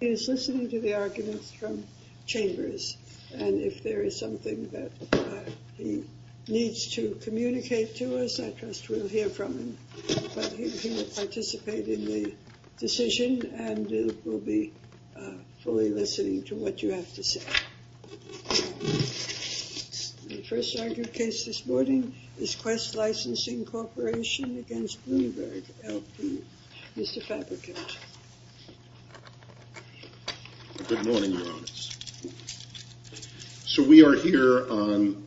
He is listening to the arguments from Chambers, and if there is something that he needs to communicate to us, I trust we'll hear from him. But he will participate in the decision and will be fully listening to what you have to say. The first argued case this morning is Quest Licensing Corporation against Bloomberg LP. Mr. Fabricant. Good morning, Your Honors. So we are here on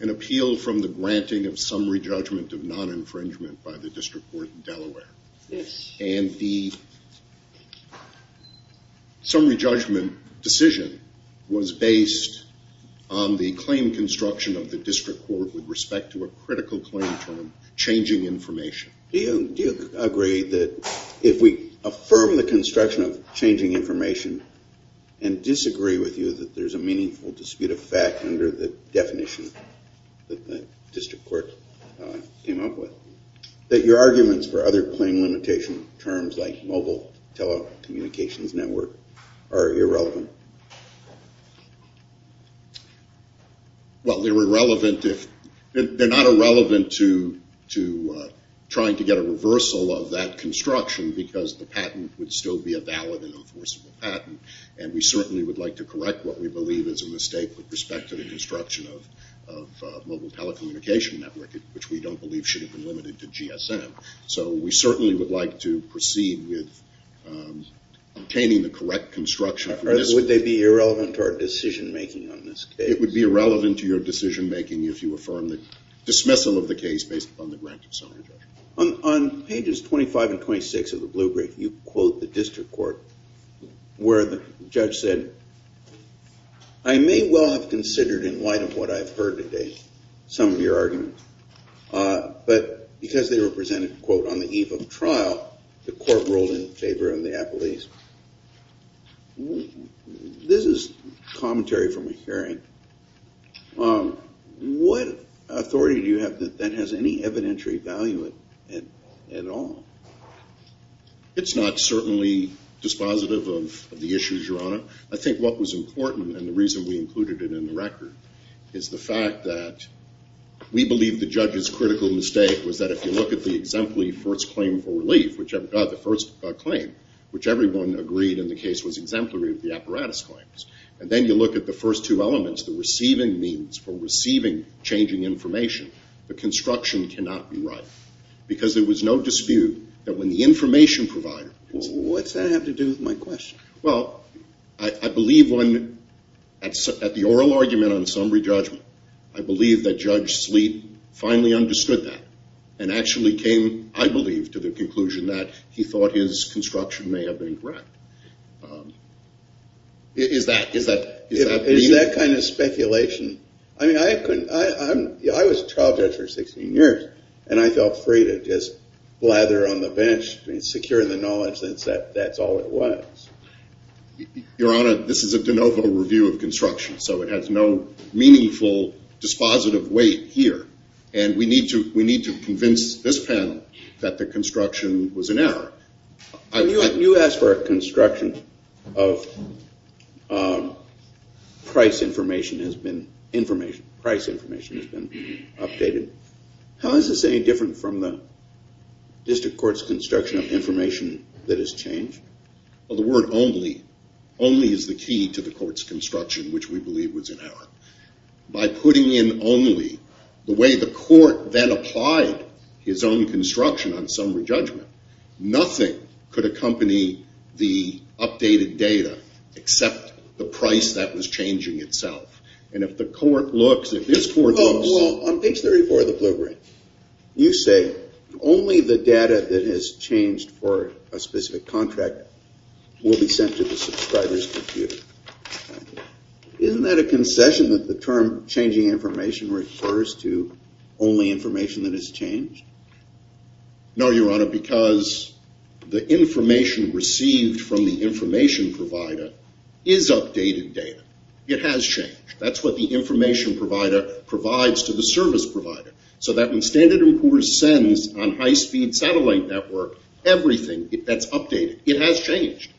an appeal from the granting of summary judgment of non-infringement by the District Court in Delaware. And the summary judgment decision was based on the claim construction of the District Court with respect to a critical claim term, changing information. Do you agree that if we affirm the construction of changing information and disagree with you that there is a meaningful dispute of fact under the definition that the District Court came up with, that your arguments for other claim limitation terms like mobile telecommunications network are irrelevant? Well, they're irrelevant if, they're not irrelevant to trying to get a reversal of that construction because the patent would still be a valid and enforceable patent. And we certainly would like to correct what we believe is a mistake with respect to the construction of mobile telecommunication network, which we don't believe should have been limited to GSM. So we certainly would like to proceed with obtaining the correct construction. Would they be irrelevant to our decision making on this case? It would be irrelevant to your decision making if you affirm the dismissal of the case based upon the grant of summary judgment. On pages 25 and 26 of the blue brief, you quote the District Court where the judge said, I may well have considered in light of what I've heard today some of your arguments. But because they were presented, quote, on the eve of trial, the court ruled in favor of the appellees. This is commentary from a hearing. What authority do you have that has any evidentiary value at all? It's not certainly dispositive of the issues, Your Honor. I think what was important and the reason we included it in the record is the fact that we believe the judge's critical mistake was that if you look at the exemplary first claim for relief, which everyone agreed in the case was exemplary of the apparatus claims, and then you look at the first two elements, the receiving means for receiving changing information, the construction cannot be right. Because there was no dispute that when the information provider... What's that have to do with my question? Well, I believe when at the oral argument on summary judgment, I believe that Judge Sleet finally understood that and actually came, I believe, to the conclusion that he thought his construction may have been correct. Is that... Is that kind of speculation? I mean, I couldn't... I was a trial judge for 16 years, and I felt free to just blather on the bench and secure the knowledge that that's all it was. Your Honor, this is a de novo review of construction, so it has no meaningful dispositive weight here. And we need to convince this panel that the construction was an error. You asked for a construction of price information has been information. Price information has been updated. How is this any different from the district court's construction of information that has changed? Well, the word only, only is the key to the court's construction, which we believe was an error. By putting in only the way the court then applied his own construction on summary judgment, nothing could accompany the updated data except the price that was changing itself. And if the court looks, if this court looks... Well, on page 34 of the blueprint, you say only the data that has changed for a specific contract will be sent to the subscriber's computer. Isn't that a concession that the term changing information refers to only information that has changed? No, Your Honor, because the information received from the information provider is updated data. It has changed. That's what the information provider provides to the service provider. So that when Standard & Poor's sends on high-speed satellite network, everything that's updated, it has changed.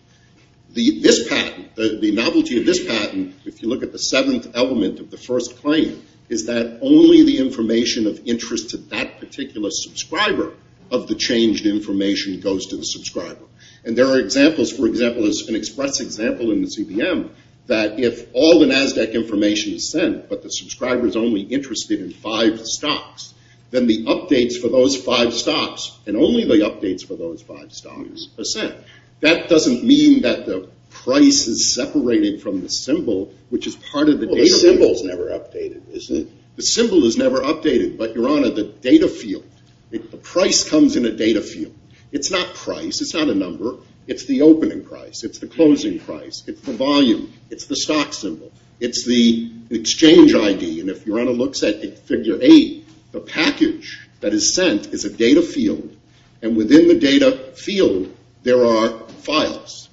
The novelty of this patent, if you look at the seventh element of the first claim, is that only the information of interest to that particular subscriber of the changed information goes to the subscriber. And there are examples, for example, as an express example in the CDM, that if all the NASDAQ information is sent but the subscriber is only interested in five stocks, then the updates for those five stocks and only the updates for those five stocks are sent. That doesn't mean that the price is separated from the symbol, which is part of the data field. Well, the symbol is never updated, is it? The symbol is never updated, but, Your Honor, the data field, the price comes in a data field. It's not price. It's not a number. It's the opening price. It's the closing price. It's the volume. It's the stock symbol. It's the exchange ID. And if Your Honor looks at figure eight, the package that is sent is a data field. And within the data field, there are files.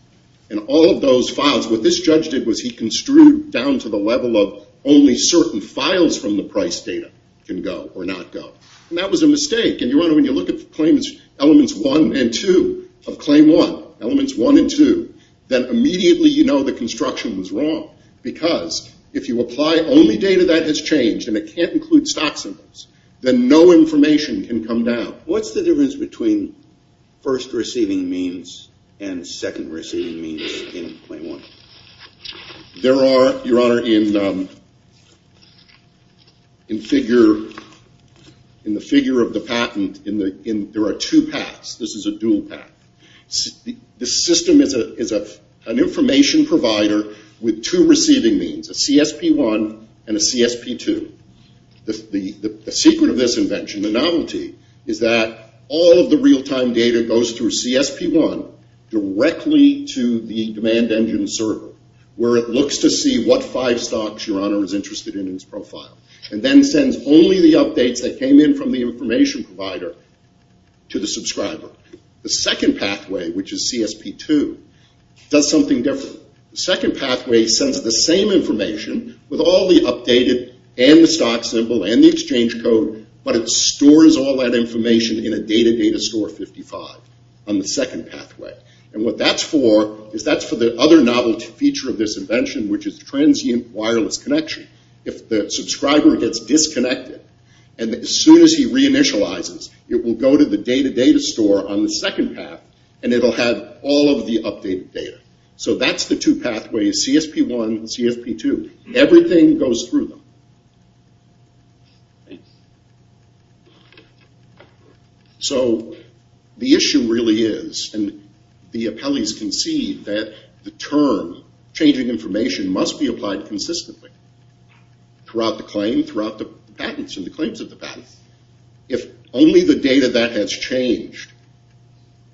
And all of those files, what this judge did was he construed down to the level of only certain files from the price data can go or not go. And that was a mistake. And, Your Honor, when you look at elements one and two of claim one, elements one and two, then immediately you know the construction was wrong because if you apply only data that has changed and it can't include stock symbols, then no information can come down. What's the difference between first receiving means and second receiving means in claim one? There are, Your Honor, in the figure of the patent, there are two paths. This is a dual path. The system is an information provider with two receiving means, a CSP-1 and a CSP-2. The secret of this invention, the novelty, is that all of the real-time data goes through CSP-1 directly to the demand engine server where it looks to see what five stocks Your Honor is interested in in its profile and then sends only the updates that came in from the information provider to the subscriber. The second pathway, which is CSP-2, does something different. The second pathway sends the same information with all the updated and the stock symbol and the exchange code, but it stores all that information in a data data store 55 on the second pathway. And what that's for is that's for the other novelty feature of this invention, which is transient wireless connection. If the subscriber gets disconnected and as soon as he reinitializes, it will go to the data data store on the second path and it will have all of the updated data. So that's the two pathways, CSP-1 and CSP-2. Everything goes through them. So the issue really is, and the appellees can see that the term, changing information, must be applied consistently throughout the claim, throughout the patents and the claims of the patents. If only the data that has changed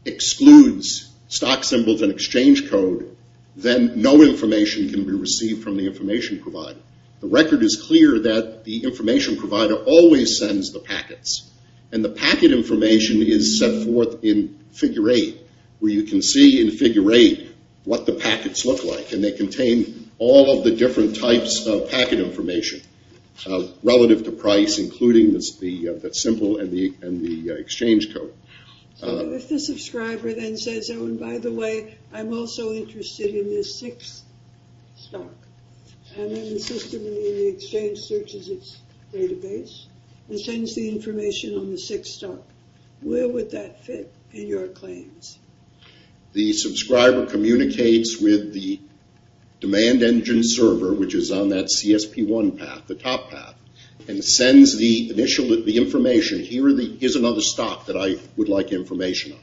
excludes stock symbols and exchange code, then no information can be received from the information provider. The record is clear that the information provider always sends the packets. And the packet information is set forth in Figure 8, where you can see in Figure 8 what the packets look like. And they contain all of the different types of packet information relative to price, including the symbol and the exchange code. So if the subscriber then says, oh, and by the way, I'm also interested in this sixth stock, and then the system in the exchange searches its database and sends the information on the sixth stock, where would that fit in your claims? The subscriber communicates with the demand engine server, which is on that CSP-1 path, the top path, and sends the information, here is another stock that I would like information on.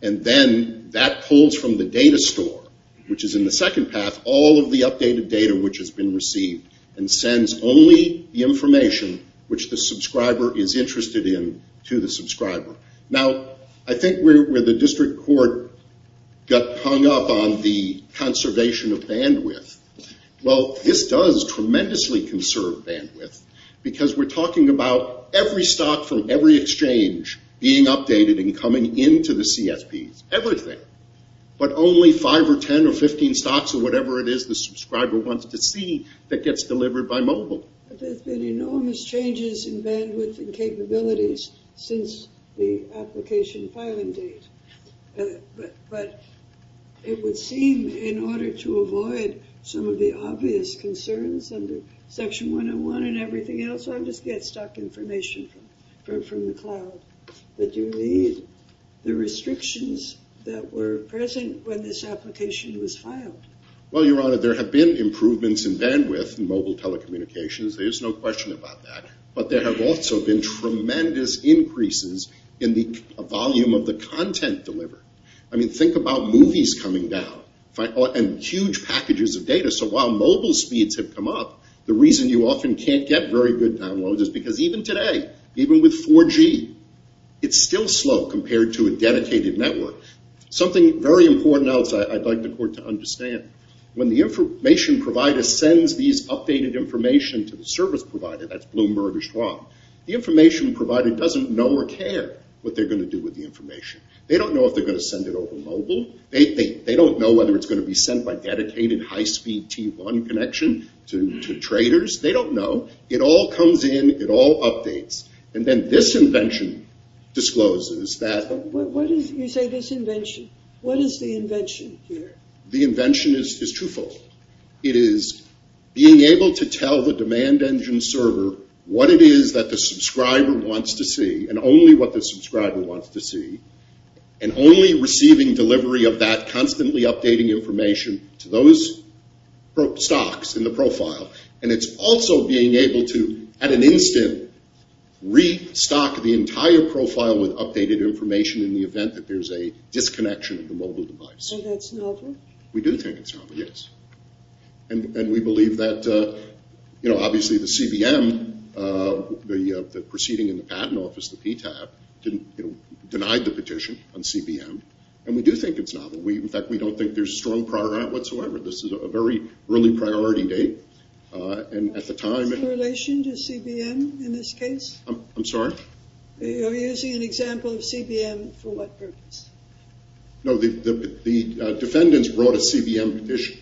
And then that pulls from the data store, which is in the second path, all of the updated data which has been received and sends only the information which the subscriber is interested in to the subscriber. Now, I think where the district court got hung up on the conservation of bandwidth, well, this does tremendously conserve bandwidth, because we're talking about every stock from every exchange being updated and coming into the CSPs. Everything. But only 5 or 10 or 15 stocks or whatever it is the subscriber wants to see that gets delivered by mobile. There's been enormous changes in bandwidth and capabilities since the application filing date. But it would seem in order to avoid some of the obvious concerns under Section 101 and everything else, I just get stock information from the cloud that you need. The restrictions that were present when this application was filed. Well, Your Honor, there have been improvements in bandwidth in mobile telecommunications. There's no question about that. But there have also been tremendous increases in the volume of the content delivered. I mean, think about movies coming down and huge packages of data. So while mobile speeds have come up, the reason you often can't get very good downloads is because even today, even with 4G, it's still slow compared to a dedicated network. Something very important else I'd like the court to understand. When the information provider sends these updated information to the service provider, that's Bloomberg or Schwab, the information provider doesn't know or care what they're going to do with the information. They don't know if they're going to send it over mobile. They don't know whether it's going to be sent by dedicated high-speed T1 connection to traders. They don't know. It all comes in. It all updates. And then this invention discloses that. You say this invention. What is the invention here? The invention is twofold. It is being able to tell the demand engine server what it is that the subscriber wants to see and only what the subscriber wants to see and only receiving delivery of that constantly updating information to those stocks in the profile. And it's also being able to, at an instant, restock the entire profile with updated information in the event that there's a disconnection of the mobile device. So that's novel? We do think it's novel, yes. And we believe that, you know, obviously the CBM, the proceeding in the patent office, the PTAB, denied the petition on CBM. And we do think it's novel. In fact, we don't think there's a strong prior on it whatsoever. This is a very early priority date. And at the time— Is there a correlation to CBM in this case? I'm sorry? You're using an example of CBM for what purpose? No, the defendants brought a CBM petition.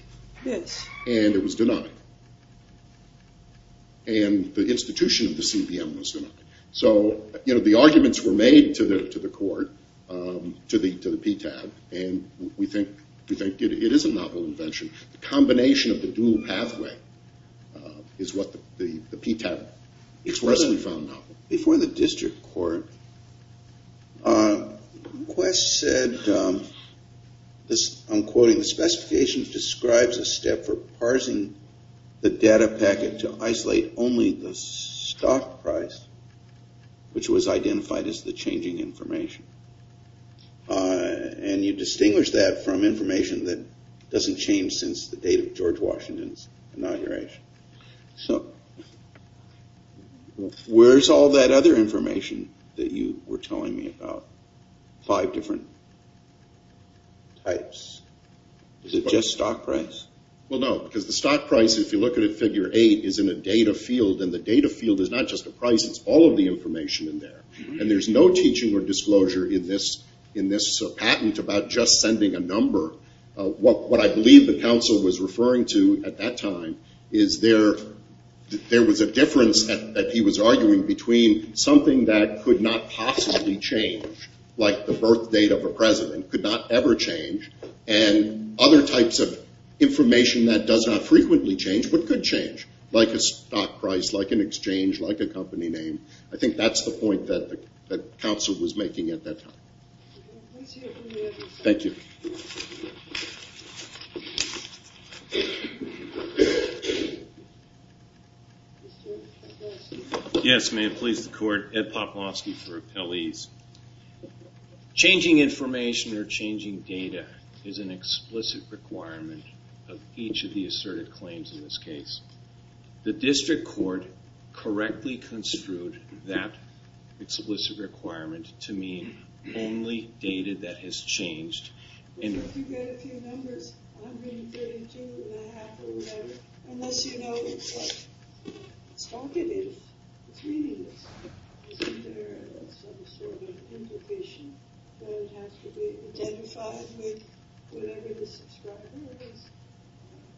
Yes. And it was denied. And the institution of the CBM was denied. So, you know, the arguments were made to the court, to the PTAB, and we think it is a novel invention. The combination of the dual pathway is what the PTAB expressly found novel. Before the district court, Quest said, I'm quoting, the specification describes a step for parsing the data packet to isolate only the stock price, which was identified as the changing information. And you distinguish that from information that doesn't change since the date of George Washington's inauguration. So where's all that other information that you were telling me about, five different types? Is it just stock price? Well, no, because the stock price, if you look at it, figure eight, is in a data field, and the data field is not just a price. It's all of the information in there. And there's no teaching or disclosure in this patent about just sending a number. What I believe the counsel was referring to at that time is there was a difference that he was arguing between something that could not possibly change, like the birth date of a president, could not ever change, and other types of information that does not frequently change, but could change, like a stock price, like an exchange, like a company name. I think that's the point that counsel was making at that time. Thank you. Yes, may it please the Court, Ed Poplowski for Appellees. Changing information or changing data is an explicit requirement of each of the asserted claims in this case. The district court correctly construed that explicit requirement to mean only data that has changed. If you get a few numbers, 132 and a half or whatever, unless you know what stock it is, it's meaningless. Isn't there some sort of implication that it has to be identified with whatever the subscriber has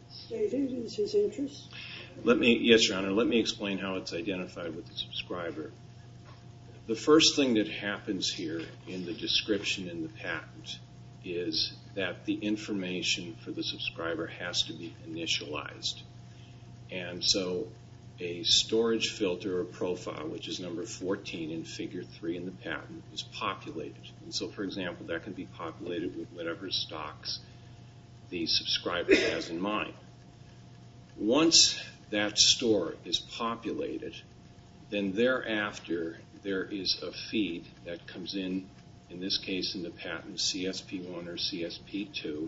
stated is his interest? Yes, Your Honor, let me explain how it's identified with the subscriber. The first thing that happens here in the description in the patent is that the information for the subscriber has to be initialized. And so a storage filter or profile, which is number 14 in figure 3 in the patent, is populated. And so, for example, that can be populated with whatever stocks the subscriber has in mind. Once that store is populated, then thereafter there is a feed that comes in, in this case in the patent, CSP1 or CSP2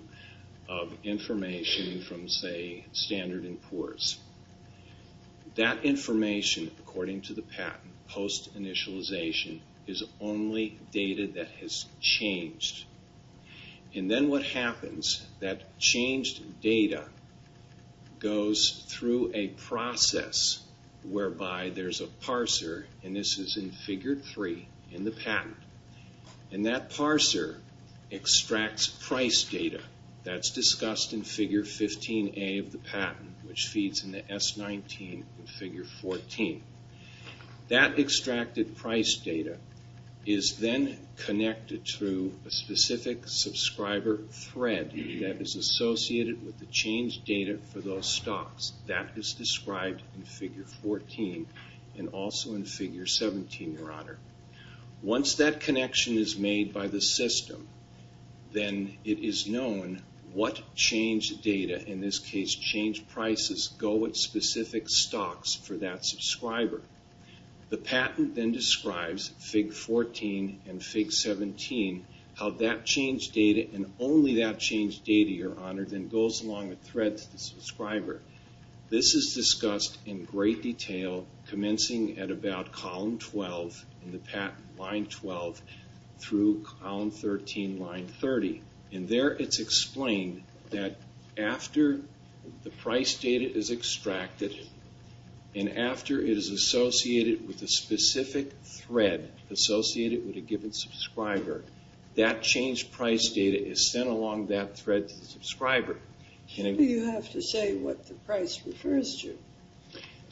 of information from, say, Standard & Poor's. That information, according to the patent post-initialization, is only data that has changed. And then what happens, that changed data goes through a process whereby there's a parser, and this is in figure 3 in the patent, and that parser extracts price data. That's discussed in figure 15A of the patent, which feeds into S19 in figure 14. That extracted price data is then connected through a specific subscriber thread that is associated with the changed data for those stocks. That is described in figure 14 and also in figure 17, Your Honor. Once that connection is made by the system, then it is known what changed data, in this case changed prices, go with specific stocks for that subscriber. The patent then describes, figure 14 and figure 17, how that changed data and only that changed data, Your Honor, then goes along a thread to the subscriber. This is discussed in great detail, commencing at about column 12 in the patent, line 12, through column 13, line 30. And there it's explained that after the price data is extracted, and after it is associated with a specific thread associated with a given subscriber, that changed price data is sent along that thread to the subscriber. You have to say what the price refers to.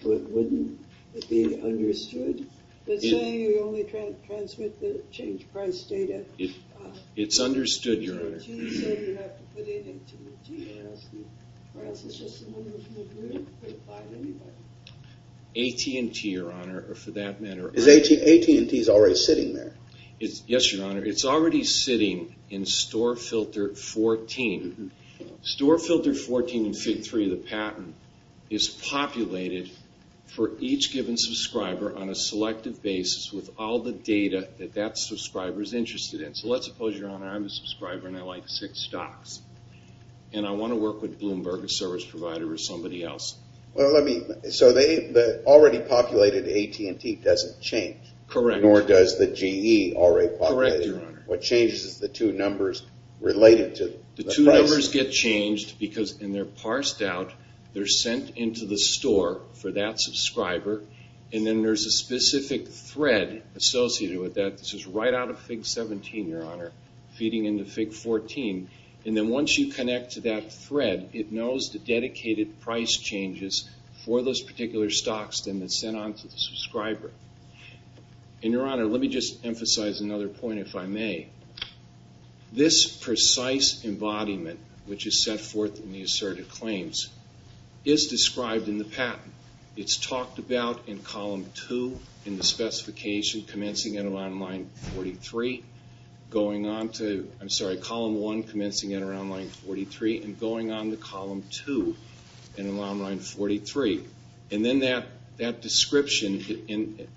Wouldn't it be understood? They say you only transmit the changed price data. It's understood, Your Honor. AT&T said you have to put it into the GS. Or else it's just the one that's in the group. AT&T, Your Honor, for that matter. AT&T is already sitting there. Yes, Your Honor. It's already sitting in store filter 14. Store filter 14 in Fig. 3 of the patent is populated for each given subscriber on a selective basis with all the data that that subscriber is interested in. So let's suppose, Your Honor, I'm a subscriber and I like six stocks and I want to work with Bloomberg, a service provider, or somebody else. So the already populated AT&T doesn't change. Correct. Nor does the GE already populated. Correct, Your Honor. What changes is the two numbers related to the price. The two numbers get changed because when they're parsed out, they're sent into the store for that subscriber. And then there's a specific thread associated with that. This is right out of Fig. 17, Your Honor, feeding into Fig. 14. And then once you connect to that thread, it knows the dedicated price changes for those particular stocks that are sent on to the subscriber. And, Your Honor, let me just emphasize another point, if I may. This precise embodiment, which is set forth in the asserted claims, is described in the patent. It's talked about in Column 2 in the specification commencing at around line 43, going on to, I'm sorry, Column 1 commencing at around line 43 and going on to Column 2 at around line 43. And then that description, and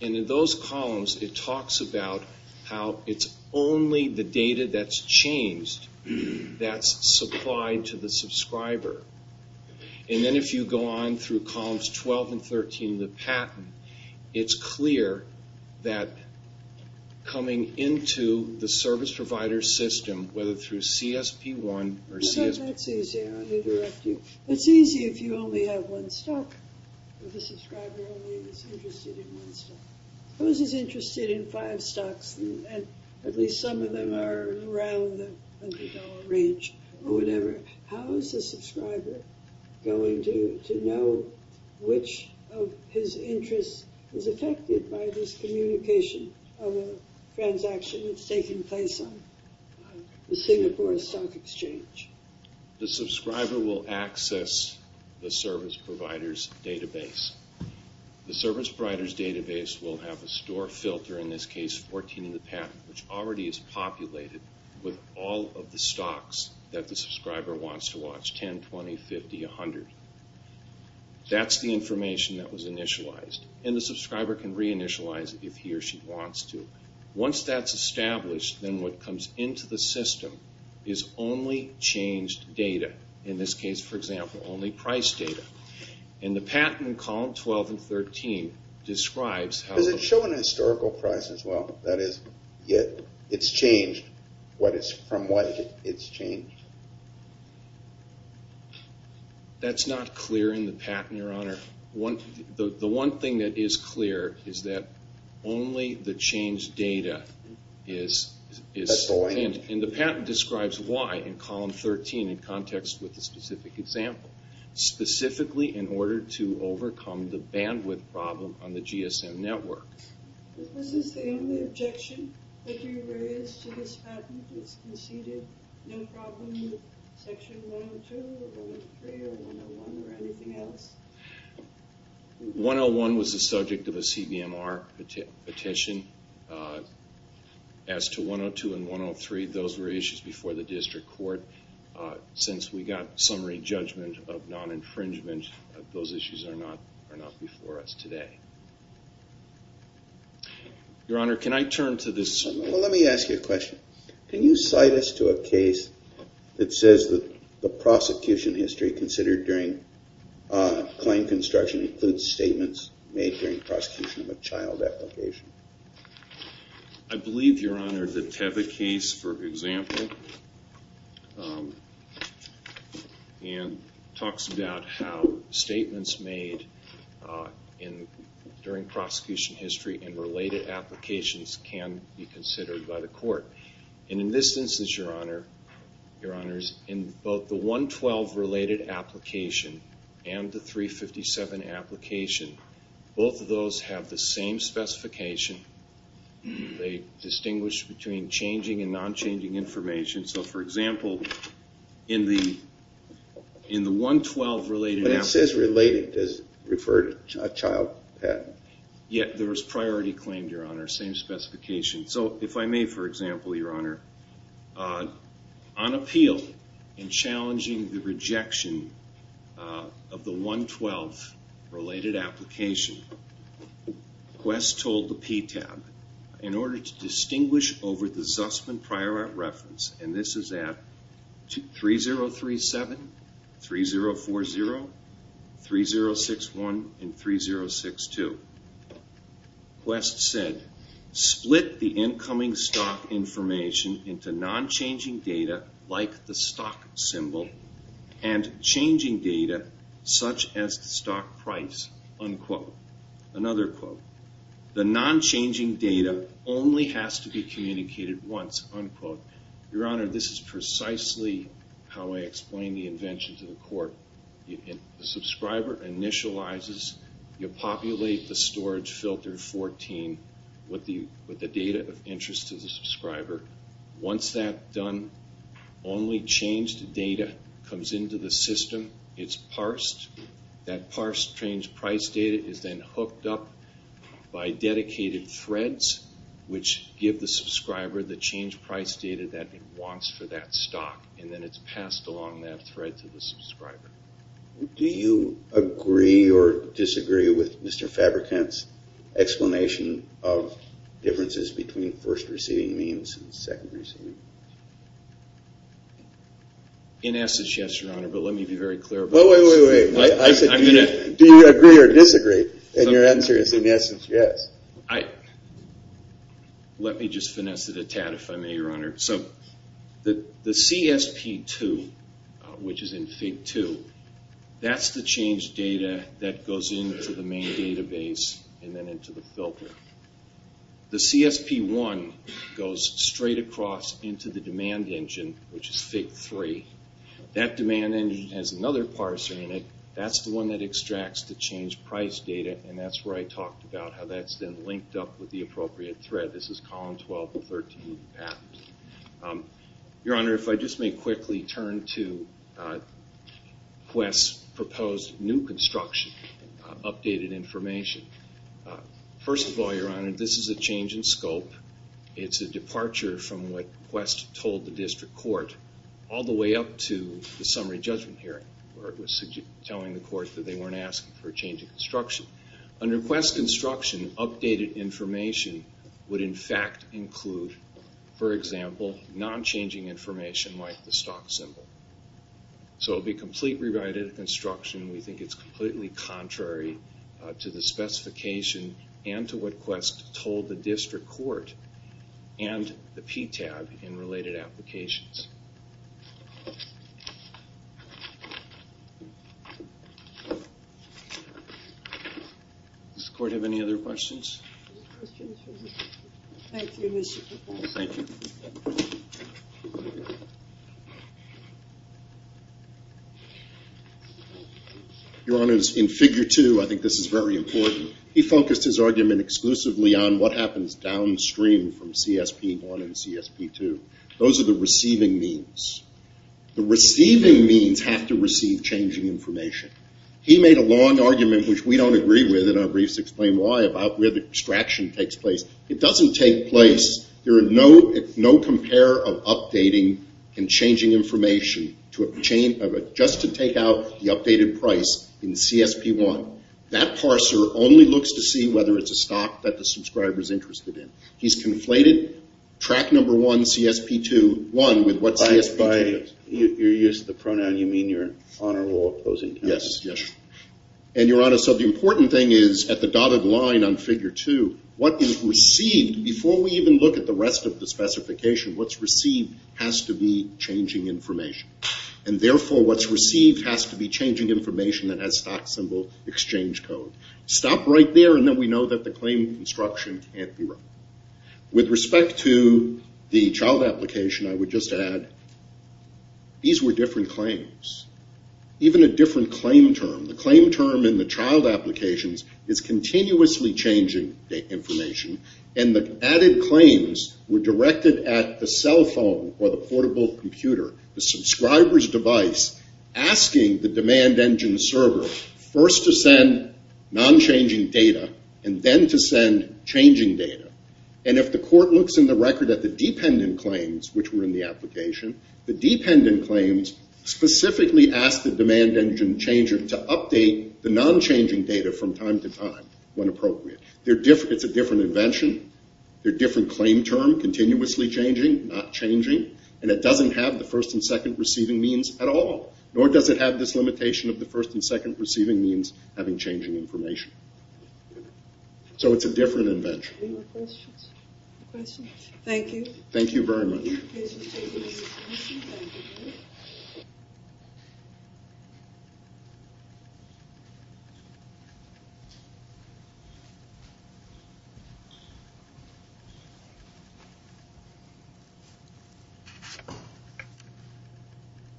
in those columns, it talks about how it's only the data that's changed that's supplied to the subscriber. And then if you go on through Columns 12 and 13 of the patent, it's clear that coming into the service provider system, whether through CSP1 or CSP... That's easy, I'll direct you. It's easy if you only have one stock, if the subscriber is only interested in one stock. Suppose he's interested in five stocks, and at least some of them are around the $100 range or whatever. How is the subscriber going to know which of his interests is affected by this communication of a transaction that's taking place on the Singapore Stock Exchange? The subscriber will access the service provider's database. The service provider's database will have a store filter, in this case 14 in the patent, which already is populated with all of the stocks that the subscriber wants to watch, 10, 20, 50, 100. That's the information that was initialized, and the subscriber can reinitialize it if he or she wants to. Once that's established, then what comes into the system is only changed data, in this case, for example, only price data. And the patent in column 12 and 13 describes how... Does it show an historical price as well? That is, it's changed from what it's changed? That's not clear in the patent, Your Honor. The one thing that is clear is that only the changed data is... And the patent describes why in column 13 in context with the specific example, specifically in order to overcome the bandwidth problem on the GSM network. Is this the only objection that you raise to this patent? It's conceded no problem with section 102 or 103 or 101 or anything else. 101 was the subject of a CBMR petition. As to 102 and 103, those were issues before the district court. Since we got summary judgment of non-infringement, those issues are not before us today. Your Honor, can I turn to this... Well, let me ask you a question. Can you cite us to a case that says that the prosecution history considered during claim construction includes statements made during prosecution of a child application? I believe, Your Honor, the Teva case, for example, talks about how statements made during prosecution history and related applications can be considered by the court. And in this instance, Your Honor, in both the 112-related application and the 357 application, both of those have the same specification. They distinguish between changing and non-changing information. So, for example, in the 112-related application... But it says related. Does it refer to a child patent? Yeah, there was priority claimed, Your Honor, same specification. So if I may, for example, Your Honor, on appeal in challenging the rejection of the 112-related application, Quest told the PTAB, in order to distinguish over the Zussman Prior Art Reference, and this is at 3037, 3040, 3061, and 3062, Quest said, split the incoming stock information into non-changing data, like the stock symbol, and changing data, such as the stock price, unquote. Another quote. The non-changing data only has to be communicated once, unquote. Your Honor, this is precisely how I explain the invention to the court. The subscriber initializes. You populate the storage filter 14 with the data of interest to the subscriber. Once that's done, only changed data comes into the system. It's parsed. That parsed changed price data is then hooked up by dedicated threads, which give the subscriber the changed price data that it wants for that stock, and then it's passed along that thread to the subscriber. Do you agree or disagree with Mr. Fabrikant's explanation of differences between first-receiving means and second-receiving? In essence, yes, Your Honor, but let me be very clear about this. Wait, wait, wait. I said, do you agree or disagree? And your answer is, in essence, yes. Let me just finesse it a tad, if I may, Your Honor. The CSP2, which is in FIG2, that's the changed data that goes into the main database and then into the filter. The CSP1 goes straight across into the demand engine, which is FIG3. That demand engine has another parser in it. That's the one that extracts the changed price data, and that's where I talked about how that's then linked up with the appropriate thread. This is Column 12-13, Patent. Your Honor, if I just may quickly turn to Quest's proposed new construction, updated information. First of all, Your Honor, this is a change in scope. It's a departure from what Quest told the district court, all the way up to the summary judgment hearing, where it was telling the court that they weren't asking for a change in construction. Under Quest's construction, updated information would, in fact, include, for example, non-changing information like the stock symbol. So it would be complete rewriting of construction. We think it's completely contrary to the specification and to what Quest told the district court and the PTAB in related applications. Does the court have any other questions? Thank you. Your Honor, in FIG2, I think this is very important, he focused his argument exclusively on what happens downstream from CSP1 and CSP2. Those are the receiving means. The receiving means have to receive changing information. He made a long argument, which we don't agree with, and our briefs explain why, about where the extraction takes place. It doesn't take place. There is no compare of updating and changing information, just to take out the updated price in CSP1. That parser only looks to see whether it's a stock that the subscriber is interested in. He's conflated track number one, CSP2, one with what CSP2 is. Your use of the pronoun, you mean you're on or off those encounters? Yes. Your Honor, the important thing is, at the dotted line on FIG2, what is received, before we even look at the rest of the specification, what's received has to be changing information. Therefore, what's received has to be changing information that has stock symbol exchange code. Stop right there, and then we know that the claim of construction can't be wrong. With respect to the child application, I would just add, these were different claims. Even a different claim term. The claim term in the child applications is continuously changing information, and the added claims were directed at the cell phone or the portable computer, the subscriber's device, asking the demand engine server, first to send non-changing data, and then to send changing data. And if the court looks in the record at the dependent claims, which were in the application, the dependent claims specifically asked the demand engine changer to update the non-changing data from time to time when appropriate. It's a different invention. They're different claim term, continuously changing, not changing, and it doesn't have the first and second receiving means at all. Nor does it have this limitation of the first and second receiving means having changing information. So it's a different invention. Any more questions? Thank you. Thank you very much.